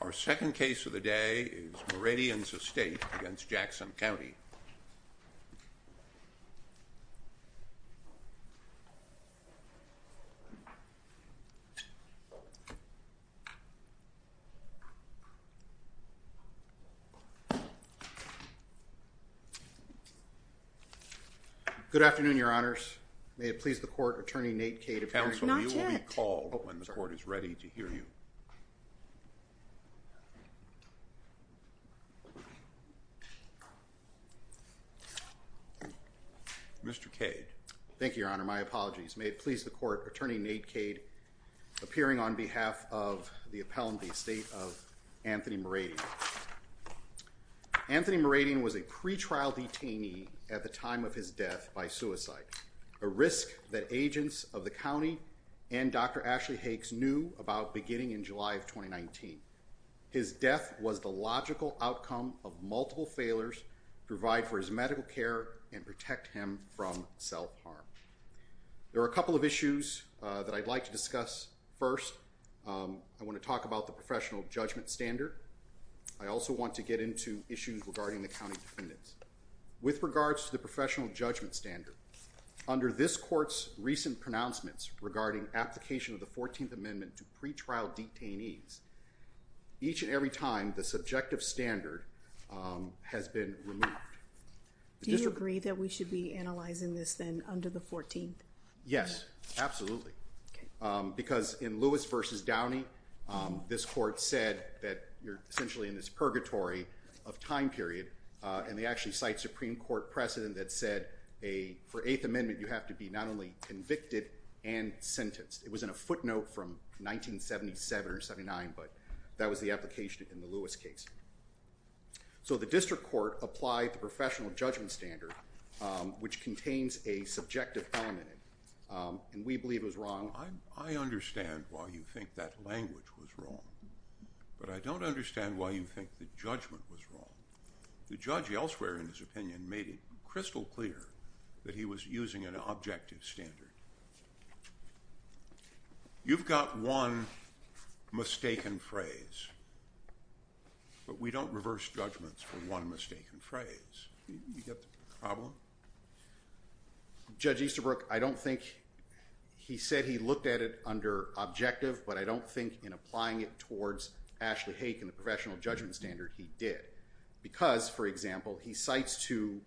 Our second case of the day is Mouradian's estate against Jackson County. Good afternoon, your honors. May it please the court, Attorney Nate Cade. Counsel, you will be called when the court is ready to hear you. Mr. Cade. Thank you, your honor. My apologies. May it please the court, Attorney Nate Cade, appearing on behalf of the appellant, the estate of Anthony Mouradian. Anthony Mouradian was a pretrial detainee at the time of his death by suicide, a risk that agents of the county and Dr. Ashley Hakes knew about beginning in July of 2019. His death was the logical outcome of multiple failures, provide for his medical care and protect him from self-harm. There are a couple of issues that I'd like to discuss. First, I want to talk about the professional judgment standard. I also want to get into issues regarding the county defendants. With regards to the professional judgment standard, under this court's recent pronouncements regarding application of the 14th Amendment to pretrial detainees, each and every time the subjective standard has been removed. Do you agree that we should be analyzing this then under the 14th? Yes, absolutely. Because in Lewis versus Downey, this court said that you're essentially in this purgatory of time period. And they actually cite Supreme Court precedent that said a for Eighth Amendment, you have to be not only convicted and sentenced. It was in a footnote from 1977 or 79, but that was the application in the Lewis case. So the district court applied the professional judgment standard, which contains a subjective element. And we believe it was wrong. I understand why you think that language was wrong. But I don't understand why you think the judgment was wrong. The judge elsewhere, in his opinion, made it crystal clear that he was using an objective standard. You've got one mistaken phrase, but we don't reverse judgments for one mistaken phrase. You get the problem? Judge Easterbrook, I don't think he said he looked at it under objective, but I don't think in applying it towards Ashley Hake and the professional judgment standard he did. Because, for example, he cites to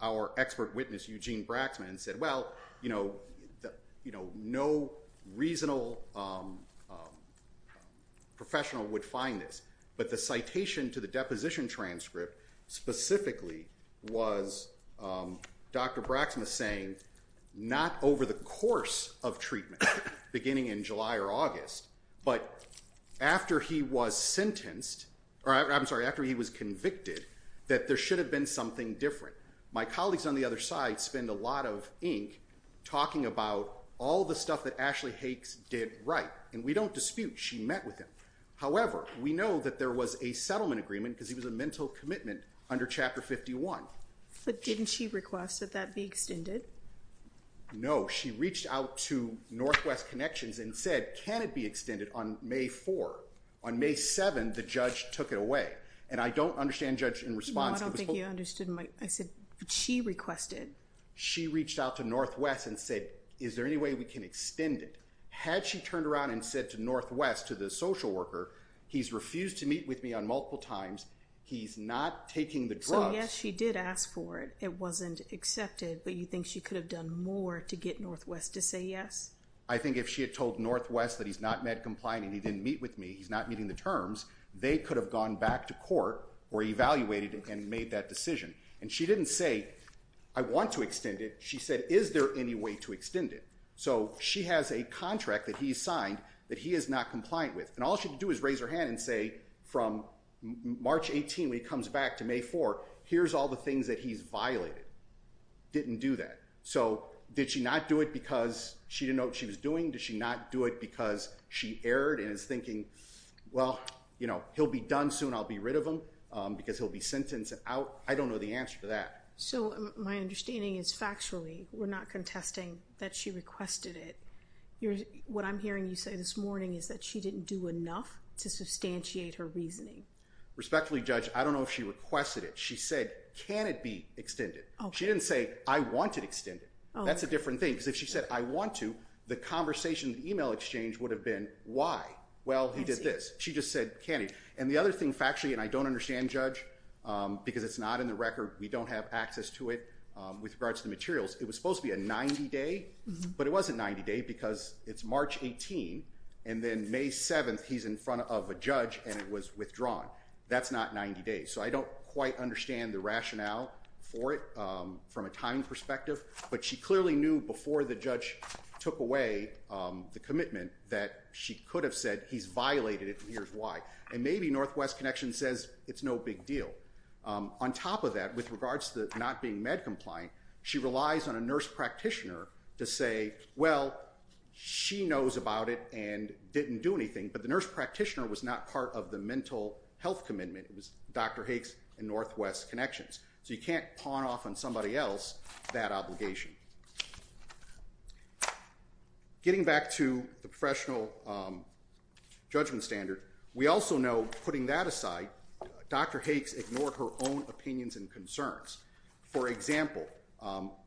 our expert witness, Eugene Braxman, and said, well, no reasonable professional would find this. But the citation to the deposition transcript specifically was Dr. Braxman saying not over the course of treatment, beginning in July or August, but after he was convicted, that there should have been something different. My colleagues on the other side spend a lot of ink talking about all the stuff that Ashley Hakes did right. And we don't dispute she met with him. However, we know that there was a settlement agreement because he was a mental commitment under Chapter 51. But didn't she request that that be extended? No, she reached out to Northwest Connections and said, can it be extended on May 4? On May 7, the judge took it away. And I don't understand, Judge, in response. I don't think you understood. I said she requested. She reached out to Northwest and said, is there any way we can extend it? Had she turned around and said to Northwest, to the social worker, he's refused to meet with me on multiple times. He's not taking the drugs. So, yes, she did ask for it. It wasn't accepted. But you think she could have done more to get Northwest to say yes? I think if she had told Northwest that he's not med compliant and he didn't meet with me, he's not meeting the terms, they could have gone back to court or evaluated and made that decision. And she didn't say, I want to extend it. She said, is there any way to extend it? So she has a contract that he signed that he is not compliant with. And all she can do is raise her hand and say, from March 18, when he comes back to May 4, here's all the things that he's violated. Didn't do that. So did she not do it because she didn't know what she was doing? Did she not do it because she erred and is thinking, well, you know, he'll be done soon. I'll be rid of him because he'll be sentenced out. I don't know the answer to that. So my understanding is factually we're not contesting that she requested it. What I'm hearing you say this morning is that she didn't do enough to substantiate her reasoning. Respectfully, Judge, I don't know if she requested it. She said, can it be extended? She didn't say, I want to extend it. That's a different thing. Because if she said, I want to, the conversation in the e-mail exchange would have been, why? Well, he did this. She just said, can he? And the other thing factually, and I don't understand, Judge, because it's not in the record. We don't have access to it with regards to the materials. It was supposed to be a 90-day, but it wasn't 90-day because it's March 18. And then May 7, he's in front of a judge and it was withdrawn. That's not 90 days. So I don't quite understand the rationale for it from a timing perspective. But she clearly knew before the judge took away the commitment that she could have said, he's violated it and here's why. And maybe Northwest Connections says it's no big deal. On top of that, with regards to not being med-compliant, she relies on a nurse practitioner to say, well, she knows about it and didn't do anything. But the nurse practitioner was not part of the mental health commitment. It was Dr. Hakes and Northwest Connections. So you can't pawn off on somebody else that obligation. Getting back to the professional judgment standard, we also know, putting that aside, Dr. Hakes ignored her own opinions and concerns. For example,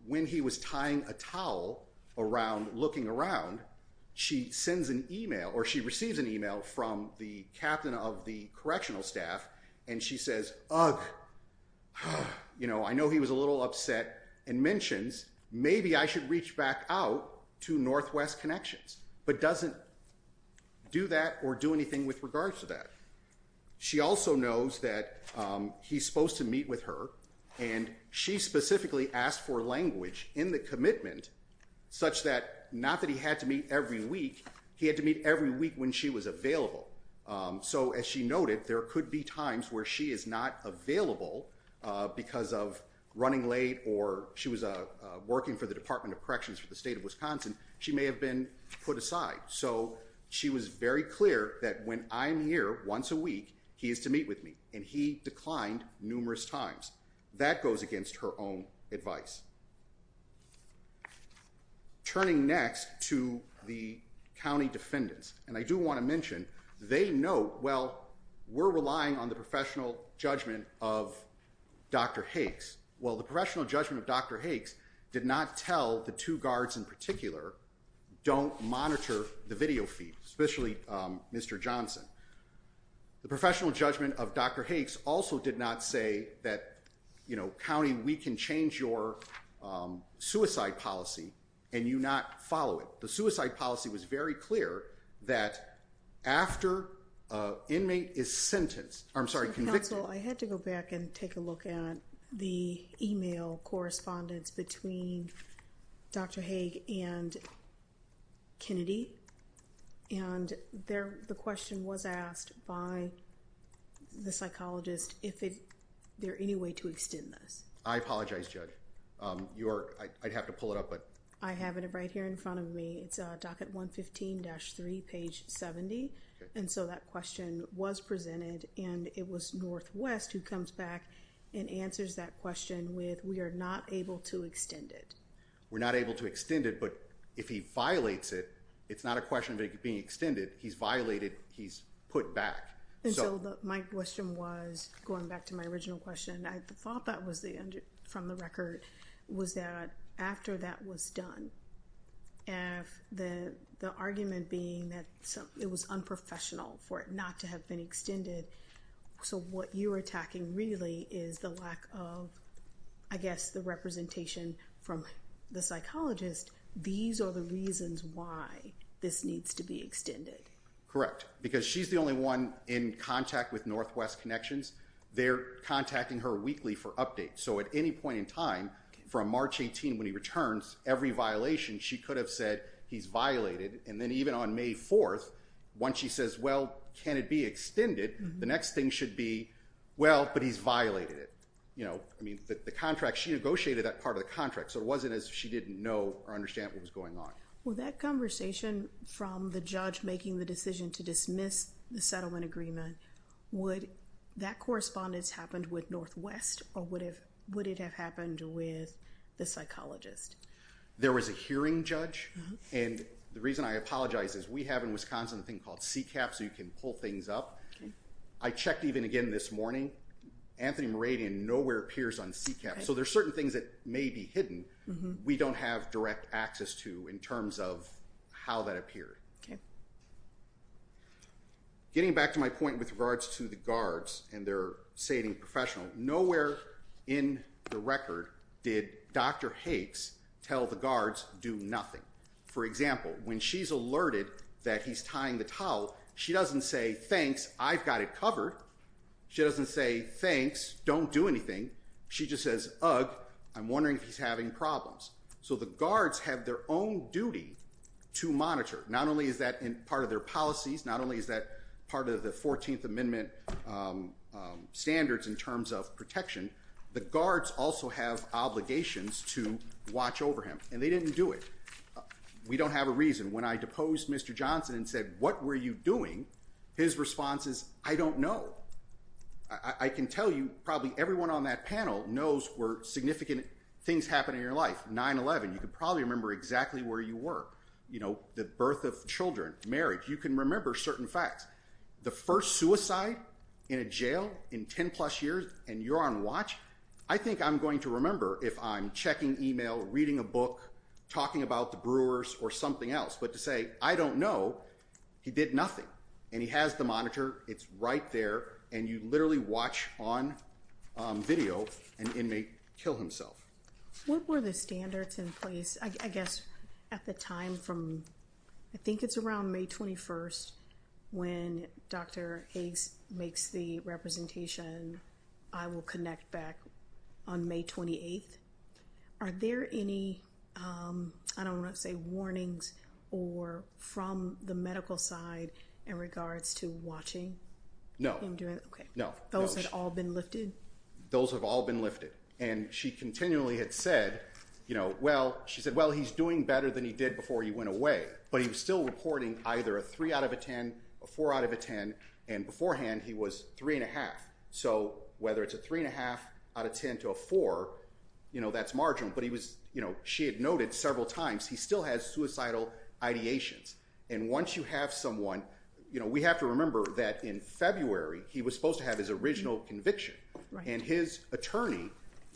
when he was tying a towel around looking around, she sends an email or she receives an email from the captain of the correctional staff and she says, ugh, I know he was a little upset and mentions, maybe I should reach back out to Northwest Connections, but doesn't do that or do anything with regards to that. She also knows that he's supposed to meet with her and she specifically asked for language in the commitment such that, not that he had to meet every week, he had to meet every week when she was available. So as she noted, there could be times where she is not available because of running late or she was working for the Department of Corrections for the state of Wisconsin, she may have been put aside. So she was very clear that when I'm here once a week, he is to meet with me and he declined numerous times. That goes against her own advice. Turning next to the county defendants, and I do want to mention, they know, well, we're relying on the professional judgment of Dr. Hakes. Well, the professional judgment of Dr. Hakes did not tell the two guards in particular, don't monitor the video feed, especially Mr. Johnson. The professional judgment of Dr. Hakes also did not say that, you know, county, we can change your suicide policy and you not follow it. So the suicide policy was very clear that after an inmate is sentenced, I'm sorry, convicted. Counsel, I had to go back and take a look at the email correspondence between Dr. Hake and Kennedy. And the question was asked by the psychologist, if there any way to extend this. I apologize, Judge. I'd have to pull it up, but. I have it right here in front of me. It's docket 115-3, page 70. And so that question was presented and it was Northwest who comes back and answers that question with, we are not able to extend it. We're not able to extend it, but if he violates it, it's not a question of it being extended. He's violated. He's put back. So my question was going back to my original question, I thought that was the from the record was that after that was done. And the argument being that it was unprofessional for it not to have been extended. So what you're attacking really is the lack of, I guess, the representation from the psychologist. These are the reasons why this needs to be extended. Correct. Because she's the only one in contact with Northwest Connections. They're contacting her weekly for updates. So at any point in time from March 18, when he returns, every violation, she could have said he's violated. And then even on May 4th, once she says, well, can it be extended? The next thing should be, well, but he's violated it. I mean, the contract, she negotiated that part of the contract. So it wasn't as if she didn't know or understand what was going on. Well, that conversation from the judge making the decision to dismiss the settlement agreement. Would that correspondence happened with Northwest or would it have happened with the psychologist? There was a hearing judge. And the reason I apologize is we have in Wisconsin a thing called CCAP so you can pull things up. I checked even again this morning. Anthony Meradian nowhere appears on CCAP. So there's certain things that may be hidden. We don't have direct access to in terms of how that appeared. Getting back to my point with regards to the guards and their saving professional. Nowhere in the record did Dr. Hakes tell the guards do nothing. For example, when she's alerted that he's tying the towel, she doesn't say, thanks, I've got it covered. She doesn't say, thanks, don't do anything. She just says, ugh, I'm wondering if he's having problems. So the guards have their own duty to monitor. Not only is that part of their policies, not only is that part of the 14th Amendment standards in terms of protection. The guards also have obligations to watch over him. And they didn't do it. We don't have a reason. When I deposed Mr. Johnson and said, what were you doing? His response is, I don't know. I can tell you probably everyone on that panel knows where significant things happen in your life. 9-11, you could probably remember exactly where you were. The birth of children, marriage, you can remember certain facts. The first suicide in a jail in 10-plus years and you're on watch? I think I'm going to remember if I'm checking email, reading a book, talking about the brewers, or something else. But to say, I don't know, he did nothing. And he has the monitor. It's right there. And you literally watch on video an inmate kill himself. What were the standards in place, I guess, at the time from, I think it's around May 21st, when Dr. Higgs makes the representation, I will connect back on May 28th? Are there any, I don't want to say warnings, or from the medical side in regards to watching? No. Those have all been lifted? Those have all been lifted. And she continually had said, well, he's doing better than he did before he went away. But he was still reporting either a 3 out of a 10, a 4 out of a 10, and beforehand he was 3.5. So whether it's a 3.5 out of 10 to a 4, that's marginal. But she had noted several times, he still has suicidal ideations. And once you have someone, we have to remember that in February, he was supposed to have his original conviction. And his attorney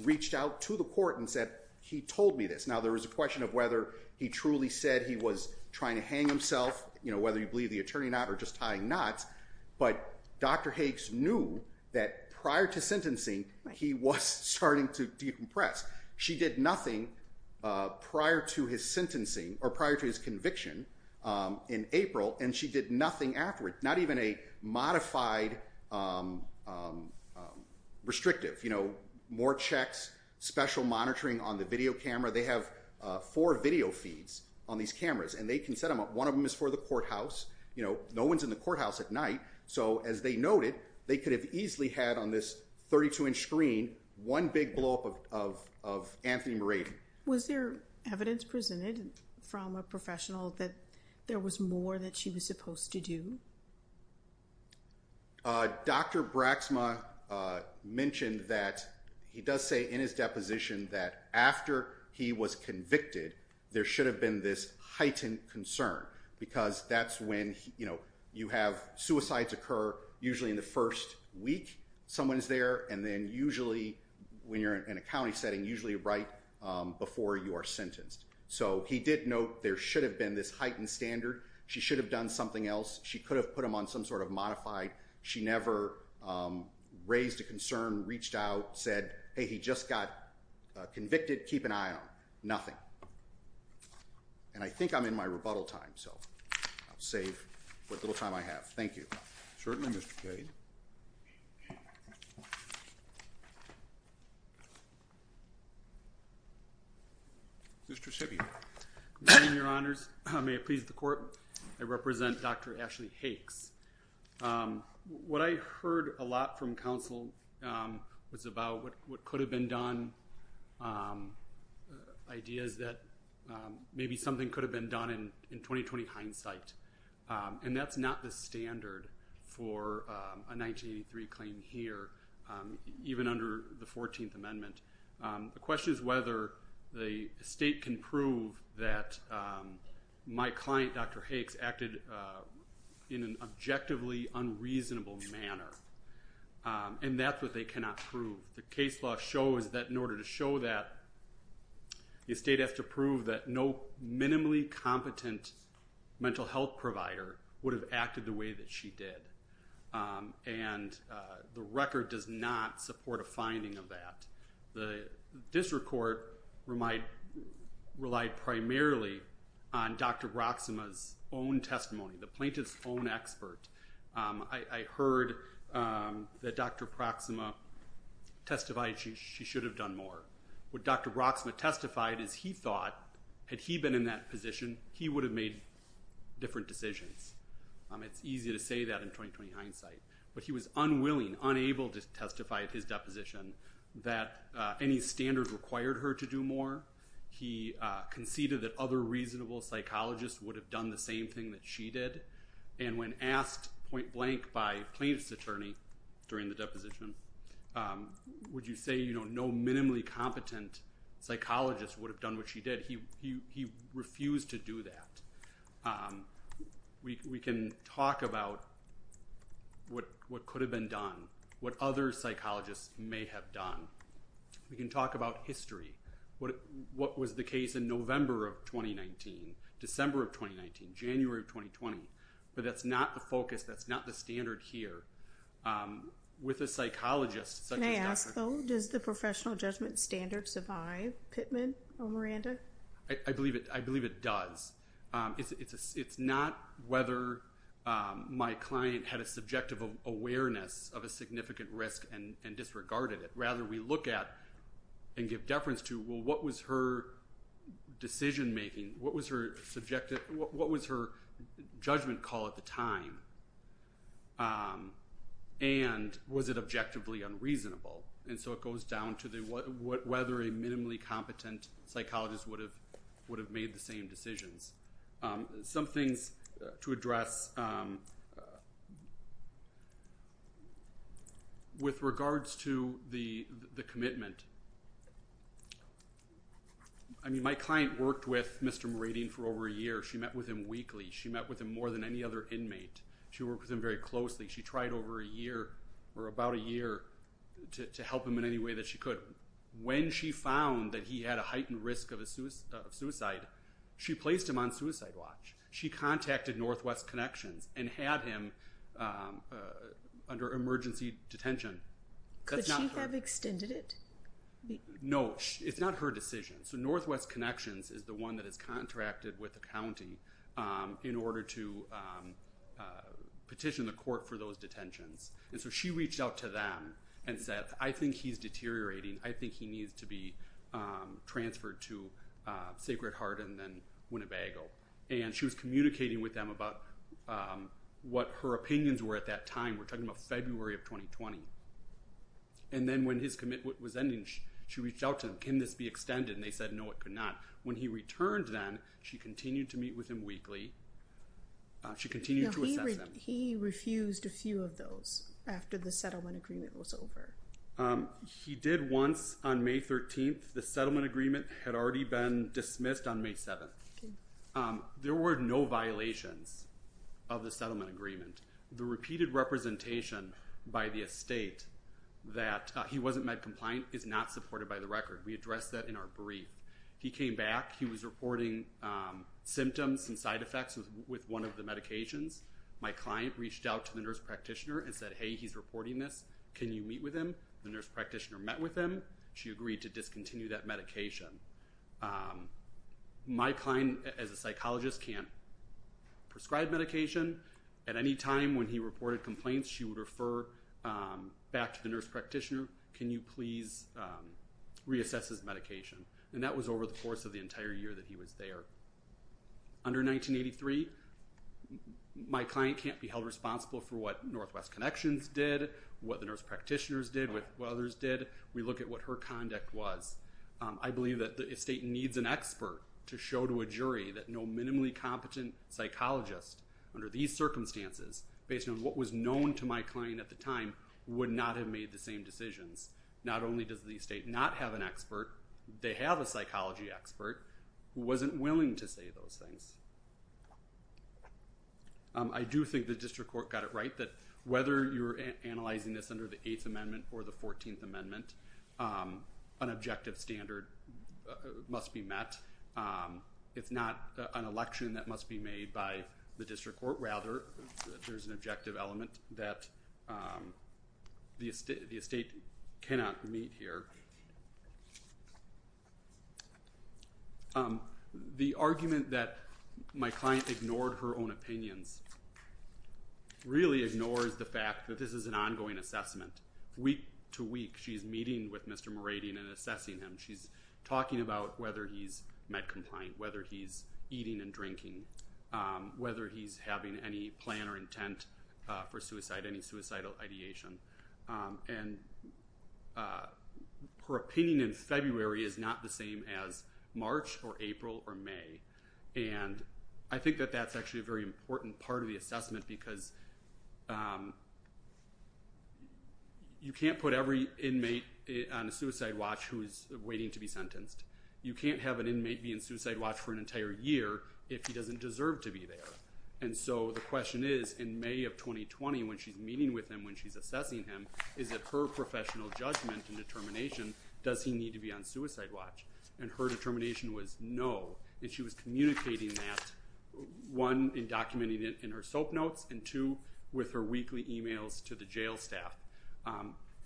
reached out to the court and said, he told me this. Now, there is a question of whether he truly said he was trying to hang himself, whether you believe the attorney or not, or just tying knots. But Dr. Hakes knew that prior to sentencing, he was starting to decompress. She did nothing prior to his conviction in April, and she did nothing afterward, not even a modified restrictive. More checks, special monitoring on the video camera. They have four video feeds on these cameras, and they can set them up. One of them is for the courthouse. You know, no one's in the courthouse at night. So as they noted, they could have easily had on this 32-inch screen one big blowup of Anthony Morady. Was there evidence presented from a professional that there was more that she was supposed to do? Dr. Braxma mentioned that he does say in his deposition that after he was convicted, there should have been this heightened concern. Because that's when, you know, you have suicides occur usually in the first week someone is there, and then usually when you're in a county setting, usually right before you are sentenced. So he did note there should have been this heightened standard. She should have done something else. She could have put him on some sort of modified. She never raised a concern, reached out, said, hey, he just got convicted. Keep an eye on him. Nothing. And I think I'm in my rebuttal time, so I'll save what little time I have. Thank you. Certainly, Mr. Cade. Mr. Sibby. Thank you, Your Honors. May it please the Court, I represent Dr. Ashley Hakes. What I heard a lot from counsel was about what could have been done, ideas that maybe something could have been done in 20-20 hindsight. And that's not the standard for a 1983 claim here, even under the 14th Amendment. The question is whether the estate can prove that my client, Dr. Hakes, acted in an objectively unreasonable manner. And that's what they cannot prove. The case law shows that in order to show that, the estate has to prove that no minimally competent mental health provider would have acted the way that she did. And the record does not support a finding of that. The district court relied primarily on Dr. Broxema's own testimony, the plaintiff's own expert. I heard that Dr. Broxema testified she should have done more. What Dr. Broxema testified is he thought, had he been in that position, he would have made different decisions. It's easy to say that in 20-20 hindsight. But he was unwilling, unable to testify at his deposition that any standard required her to do more. He conceded that other reasonable psychologists would have done the same thing that she did. And when asked point blank by plaintiff's attorney during the deposition, would you say no minimally competent psychologist would have done what she did, he refused to do that. We can talk about what could have been done, what other psychologists may have done. We can talk about history. What was the case in November of 2019, December of 2019, January of 2020. But that's not the focus, that's not the standard here. With a psychologist such as Dr. Broxema. Can I ask though, does the professional judgment standard survive Pittman or Miranda? I believe it does. It's not whether my client had a subjective awareness of a significant risk and disregarded it. Rather we look at and give deference to what was her decision making, what was her judgment call at the time. And was it objectively unreasonable. And so it goes down to whether a minimally competent psychologist would have made the same decisions. Some things to address with regards to the commitment. I mean my client worked with Mr. Meridian for over a year. She met with him weekly. She met with him more than any other inmate. She worked with him very closely. She tried over a year or about a year to help him in any way that she could. When she found that he had a heightened risk of suicide, she placed him on suicide watch. She contacted Northwest Connections and had him under emergency detention. Could she have extended it? No, it's not her decision. So Northwest Connections is the one that has contracted with the county in order to petition the court for those detentions. And so she reached out to them and said, I think he's deteriorating. I think he needs to be transferred to Sacred Heart and then Winnebago. And she was communicating with them about what her opinions were at that time. We're talking about February of 2020. And then when his commitment was ending, she reached out to him. Can this be extended? And they said, no, it could not. When he returned then, she continued to meet with him weekly. She continued to assess him. He refused a few of those after the settlement agreement was over. He did once on May 13th. The settlement agreement had already been dismissed on May 7th. There were no violations of the settlement agreement. The repeated representation by the estate that he wasn't med-compliant is not supported by the record. We addressed that in our brief. He came back. He was reporting symptoms and side effects with one of the medications. My client reached out to the nurse practitioner and said, hey, he's reporting this. Can you meet with him? The nurse practitioner met with him. She agreed to discontinue that medication. My client, as a psychologist, can't prescribe medication. At any time when he reported complaints, she would refer back to the nurse practitioner. Can you please reassess his medication? And that was over the course of the entire year that he was there. Under 1983, my client can't be held responsible for what Northwest Connections did, what the nurse practitioners did, what others did. We look at what her conduct was. I believe that the estate needs an expert to show to a jury that no minimally competent psychologist under these circumstances, based on what was known to my client at the time, would not have made the same decisions. Not only does the estate not have an expert, they have a psychology expert who wasn't willing to say those things. I do think the district court got it right that whether you're analyzing this under the Eighth Amendment or the Fourteenth Amendment, an objective standard must be met. It's not an election that must be made by the district court. Rather, there's an objective element that the estate cannot meet here. The argument that my client ignored her own opinions really ignores the fact that this is an ongoing assessment. Week to week, she's meeting with Mr. Moradian and assessing him. She's talking about whether he's med-compliant, whether he's eating and drinking, whether he's having any plan or intent for suicide, any suicidal ideation. And her opinion in February is not the same as March or April or May. I think that that's actually a very important part of the assessment because you can't put every inmate on a suicide watch who's waiting to be sentenced. You can't have an inmate be on suicide watch for an entire year if he doesn't deserve to be there. The question is, in May of 2020, when she's meeting with him, when she's assessing him, is that her professional judgment and determination, does he need to be on suicide watch? And her determination was no. And she was communicating that, one, in documenting it in her soap notes, and two, with her weekly emails to the jail staff.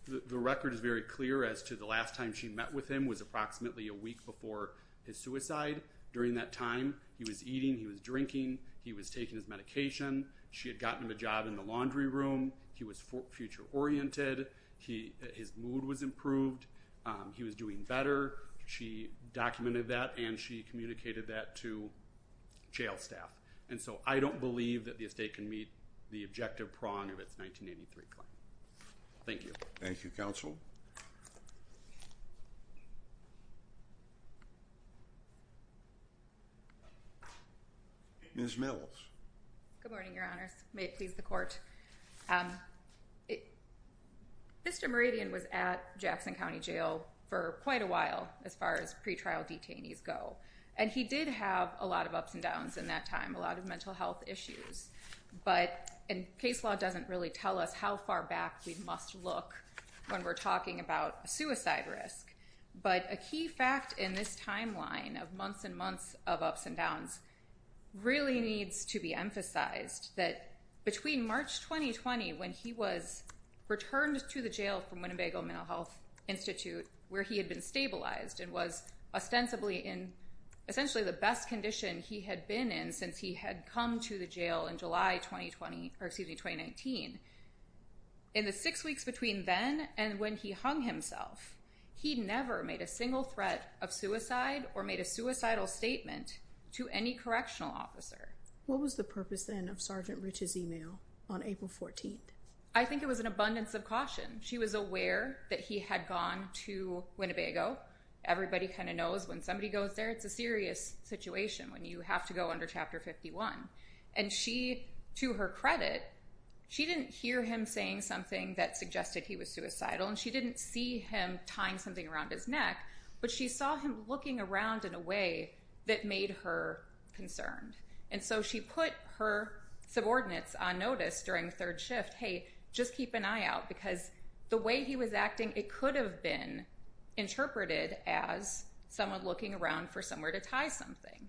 The record is very clear as to the last time she met with him was approximately a week before his suicide. During that time, he was eating, he was drinking, he was taking his medication. She had gotten him a job in the laundry room. He was future oriented. His mood was improved. He was doing better. She documented that and she communicated that to jail staff. And so I don't believe that the estate can meet the objective prong of its 1983 claim. Thank you. Thank you, Counsel. Ms. Mills. Good morning, Your Honors. May it please the Court. Mr. Meridian was at Jackson County Jail for quite a while, as far as pretrial detainees go. And he did have a lot of ups and downs in that time, a lot of mental health issues. But case law doesn't really tell us how far back we must look when we're talking about a suicide risk. But a key fact in this timeline of months and months of ups and downs really needs to be emphasized that between March 2020, when he was returned to the jail from Winnebago Mental Health Institute, where he had been stabilized and was ostensibly in essentially the best condition he had been in since he had come to the jail in July 2019, in the six weeks between then and when he hung himself, he never made a single threat of suicide or made a suicidal statement to any correctional officer. What was the purpose then of Sergeant Rich's email on April 14th? I think it was an abundance of caution. She was aware that he had gone to Winnebago. Everybody kind of knows when somebody goes there, it's a serious situation when you have to go under Chapter 51. And she, to her credit, she didn't hear him saying something that suggested he was suicidal and she didn't see him tying something around his neck, but she saw him looking around in a way that made her concerned. And so she put her subordinates on notice during third shift, hey, just keep an eye out because the way he was acting, it could have been interpreted as someone looking around for somewhere to tie something.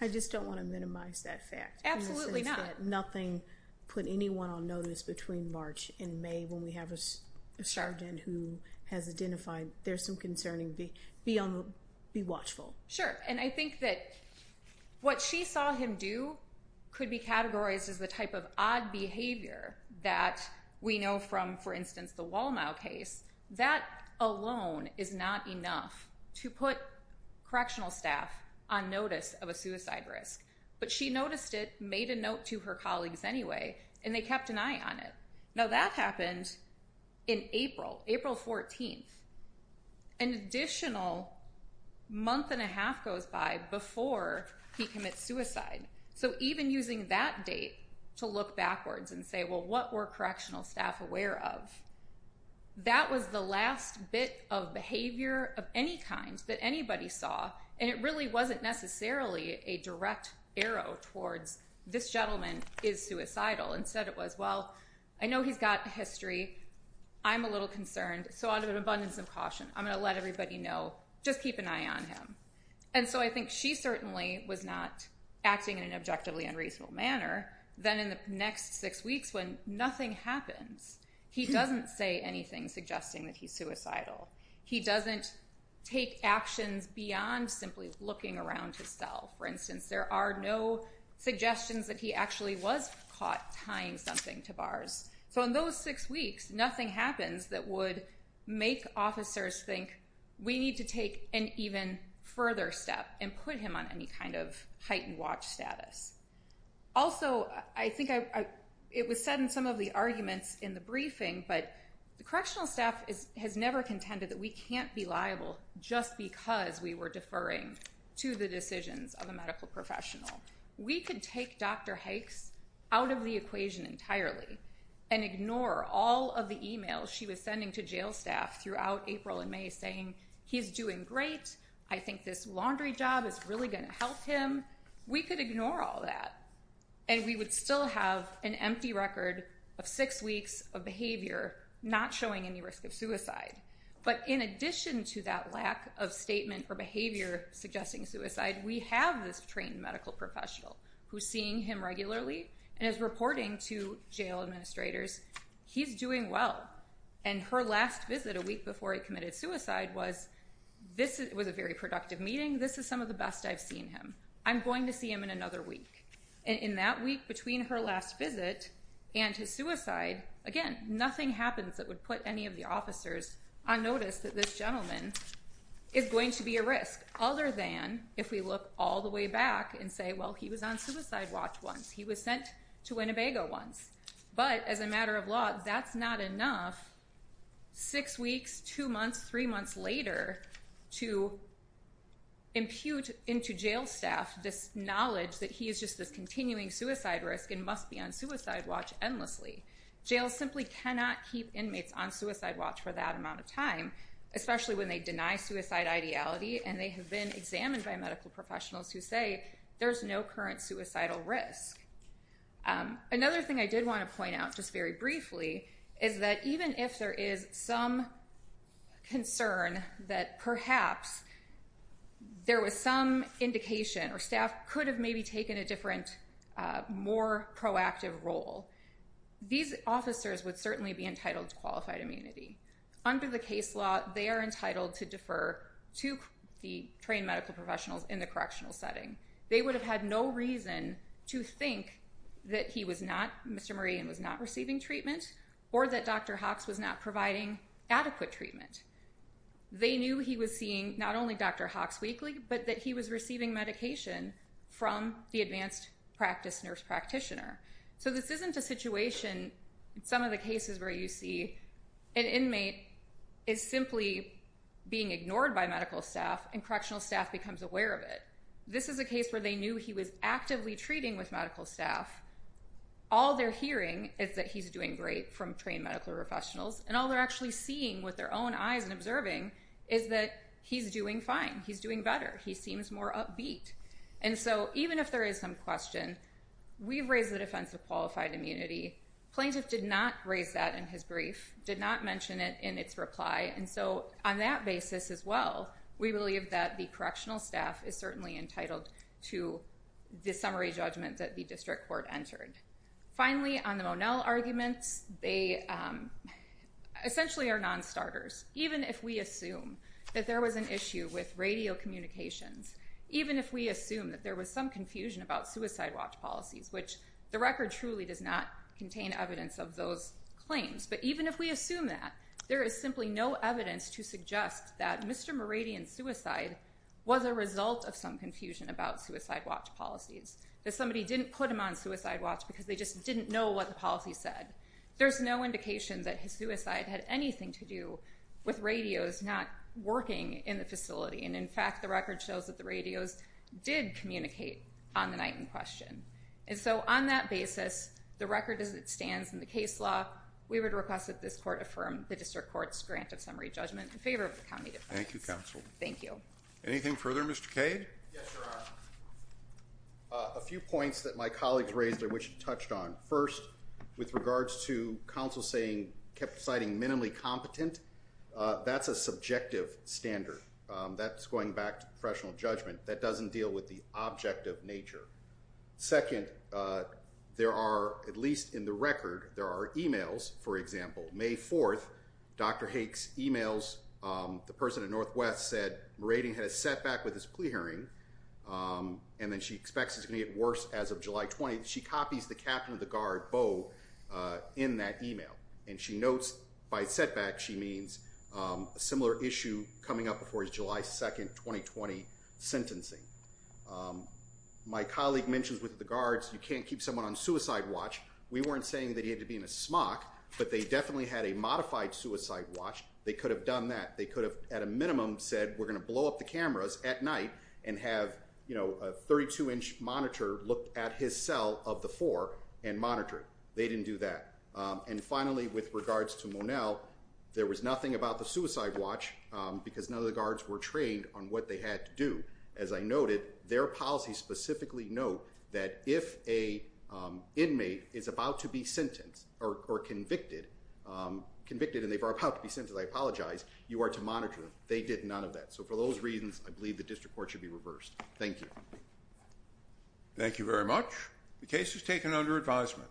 I just don't want to minimize that fact. Absolutely not. Nothing put anyone on notice between March and May when we have a sergeant who has identified, there's some concerning, be watchful. Sure. And I think that what she saw him do could be categorized as the type of odd behavior that we know from, for instance, the Wal-Mart case. That alone is not enough to put correctional staff on notice of a suicide risk. But she noticed it, made a note to her colleagues anyway, and they kept an eye on it. Now that happened in April, April 14th, an additional month and a half goes by before he commits suicide. So even using that date to look backwards and say, well, what were correctional staff aware of? That was the last bit of behavior of any kind that anybody saw, and it really wasn't necessarily a direct arrow towards this gentleman is suicidal. Instead it was, well, I know he's got history. I'm a little concerned, so out of an abundance of caution, I'm going to let everybody know, just keep an eye on him. And so I think she certainly was not acting in an objectively unreasonable manner. Then in the next six weeks when nothing happens, he doesn't say anything suggesting that he's suicidal. He doesn't take actions beyond simply looking around his cell. For instance, there are no suggestions that he actually was caught tying something to bars. So in those six weeks, nothing happens that would make officers think, we need to take an even further step and put him on any kind of heightened watch status. Also, I think it was said in some of the arguments in the briefing, but the correctional staff has never contended that we can't be liable just because we were deferring to the decisions of a medical professional. We could take Dr. Hikes out of the equation entirely and ignore all of the emails she was sending to jail staff throughout April and May saying, he's doing great, I think this laundry job is really going to help him. We could ignore all that and we would still have an empty record of six weeks of behavior not showing any risk of suicide. But in addition to that lack of statement or behavior suggesting suicide, we have this trained medical professional who's seeing him regularly and is reporting to jail administrators he's doing well. And her last visit a week before he committed suicide was a very productive meeting. I think this is some of the best I've seen him. I'm going to see him in another week. And in that week between her last visit and his suicide, again, nothing happens that would put any of the officers on notice that this gentleman is going to be a risk, other than if we look all the way back and say, well, he was on suicide watch once. He was sent to Winnebago once. But as a matter of law, that's not enough. Six weeks, two months, three months later to impute into jail staff this knowledge that he is just this continuing suicide risk and must be on suicide watch endlessly. Jails simply cannot keep inmates on suicide watch for that amount of time, especially when they deny suicide ideality and they have been examined by medical professionals who say there's no current suicidal risk. Another thing I did want to point out, just very briefly, is that even if there is some concern that perhaps there was some indication or staff could have maybe taken a different, more proactive role, these officers would certainly be entitled to qualified immunity. Under the case law, they are entitled to defer to the trained medical professionals in the correctional setting. They would have had no reason to think that he was not, Mr. Murray, was not receiving treatment or that Dr. Hawks was not providing adequate treatment. They knew he was seeing not only Dr. Hawks weekly, but that he was receiving medication from the advanced practice nurse practitioner. So this isn't a situation, some of the cases where you see an inmate is simply being ignored by medical staff and correctional staff becomes aware of it. This is a case where they knew he was actively treating with medical staff. All they're hearing is that he's doing great from trained medical professionals, and all they're actually seeing with their own eyes and observing is that he's doing fine, he's doing better, he seems more upbeat. And so even if there is some question, we've raised the defense of qualified immunity. Plaintiff did not raise that in his brief, did not mention it in its reply, and so on that basis as well, we believe that the correctional staff is certainly entitled to the summary judgment that the district court entered. Finally, on the Monell arguments, they essentially are non-starters. Even if we assume that there was an issue with radio communications, even if we assume that there was some confusion about suicide watch policies, which the record truly does not contain evidence of those claims, but even if we assume that, there is simply no evidence to suggest that Mr. Muradyan's suicide was a result of some confusion about suicide watch policies, that somebody didn't put him on suicide watch because they just didn't know what the policy said. There's no indication that his suicide had anything to do with radios not working in the facility, and in fact the record shows that the radios did communicate on the night in question. And so on that basis, the record as it stands in the case law, we would request that this court affirm the district court's grant of summary judgment in favor of the county defense. Thank you, counsel. Thank you. Anything further, Mr. Cade? Yes, Your Honor. A few points that my colleagues raised and which you touched on. First, with regards to counsel saying, citing minimally competent, that's a subjective standard. That's going back to professional judgment. That doesn't deal with the object of nature. Second, there are, at least in the record, there are e-mails. For example, May 4th, Dr. Hake's e-mails, the person at Northwest said, Muradyan had a setback with his plea hearing, and then she expects it's going to get worse as of July 20th. She copies the captain of the guard, Bo, in that e-mail, and she notes by setback, she means a similar issue coming up before his July 2nd, 2020 sentencing. My colleague mentions with regards, you can't keep someone on suicide watch. We weren't saying that he had to be in a smock, but they definitely had a modified suicide watch. They could have done that. They could have, at a minimum, said, we're going to blow up the cameras at night and have a 32-inch monitor look at his cell of the four and monitor it. They didn't do that. And finally, with regards to Monell, there was nothing about the suicide watch because none of the guards were trained on what they had to do. As I noted, their policies specifically note that if an inmate is about to be sentenced or convicted, convicted and they are about to be sentenced, I apologize, you are to monitor them. They did none of that. So for those reasons, I believe the district court should be reversed. Thank you. Thank you very much. The case is taken under advisement.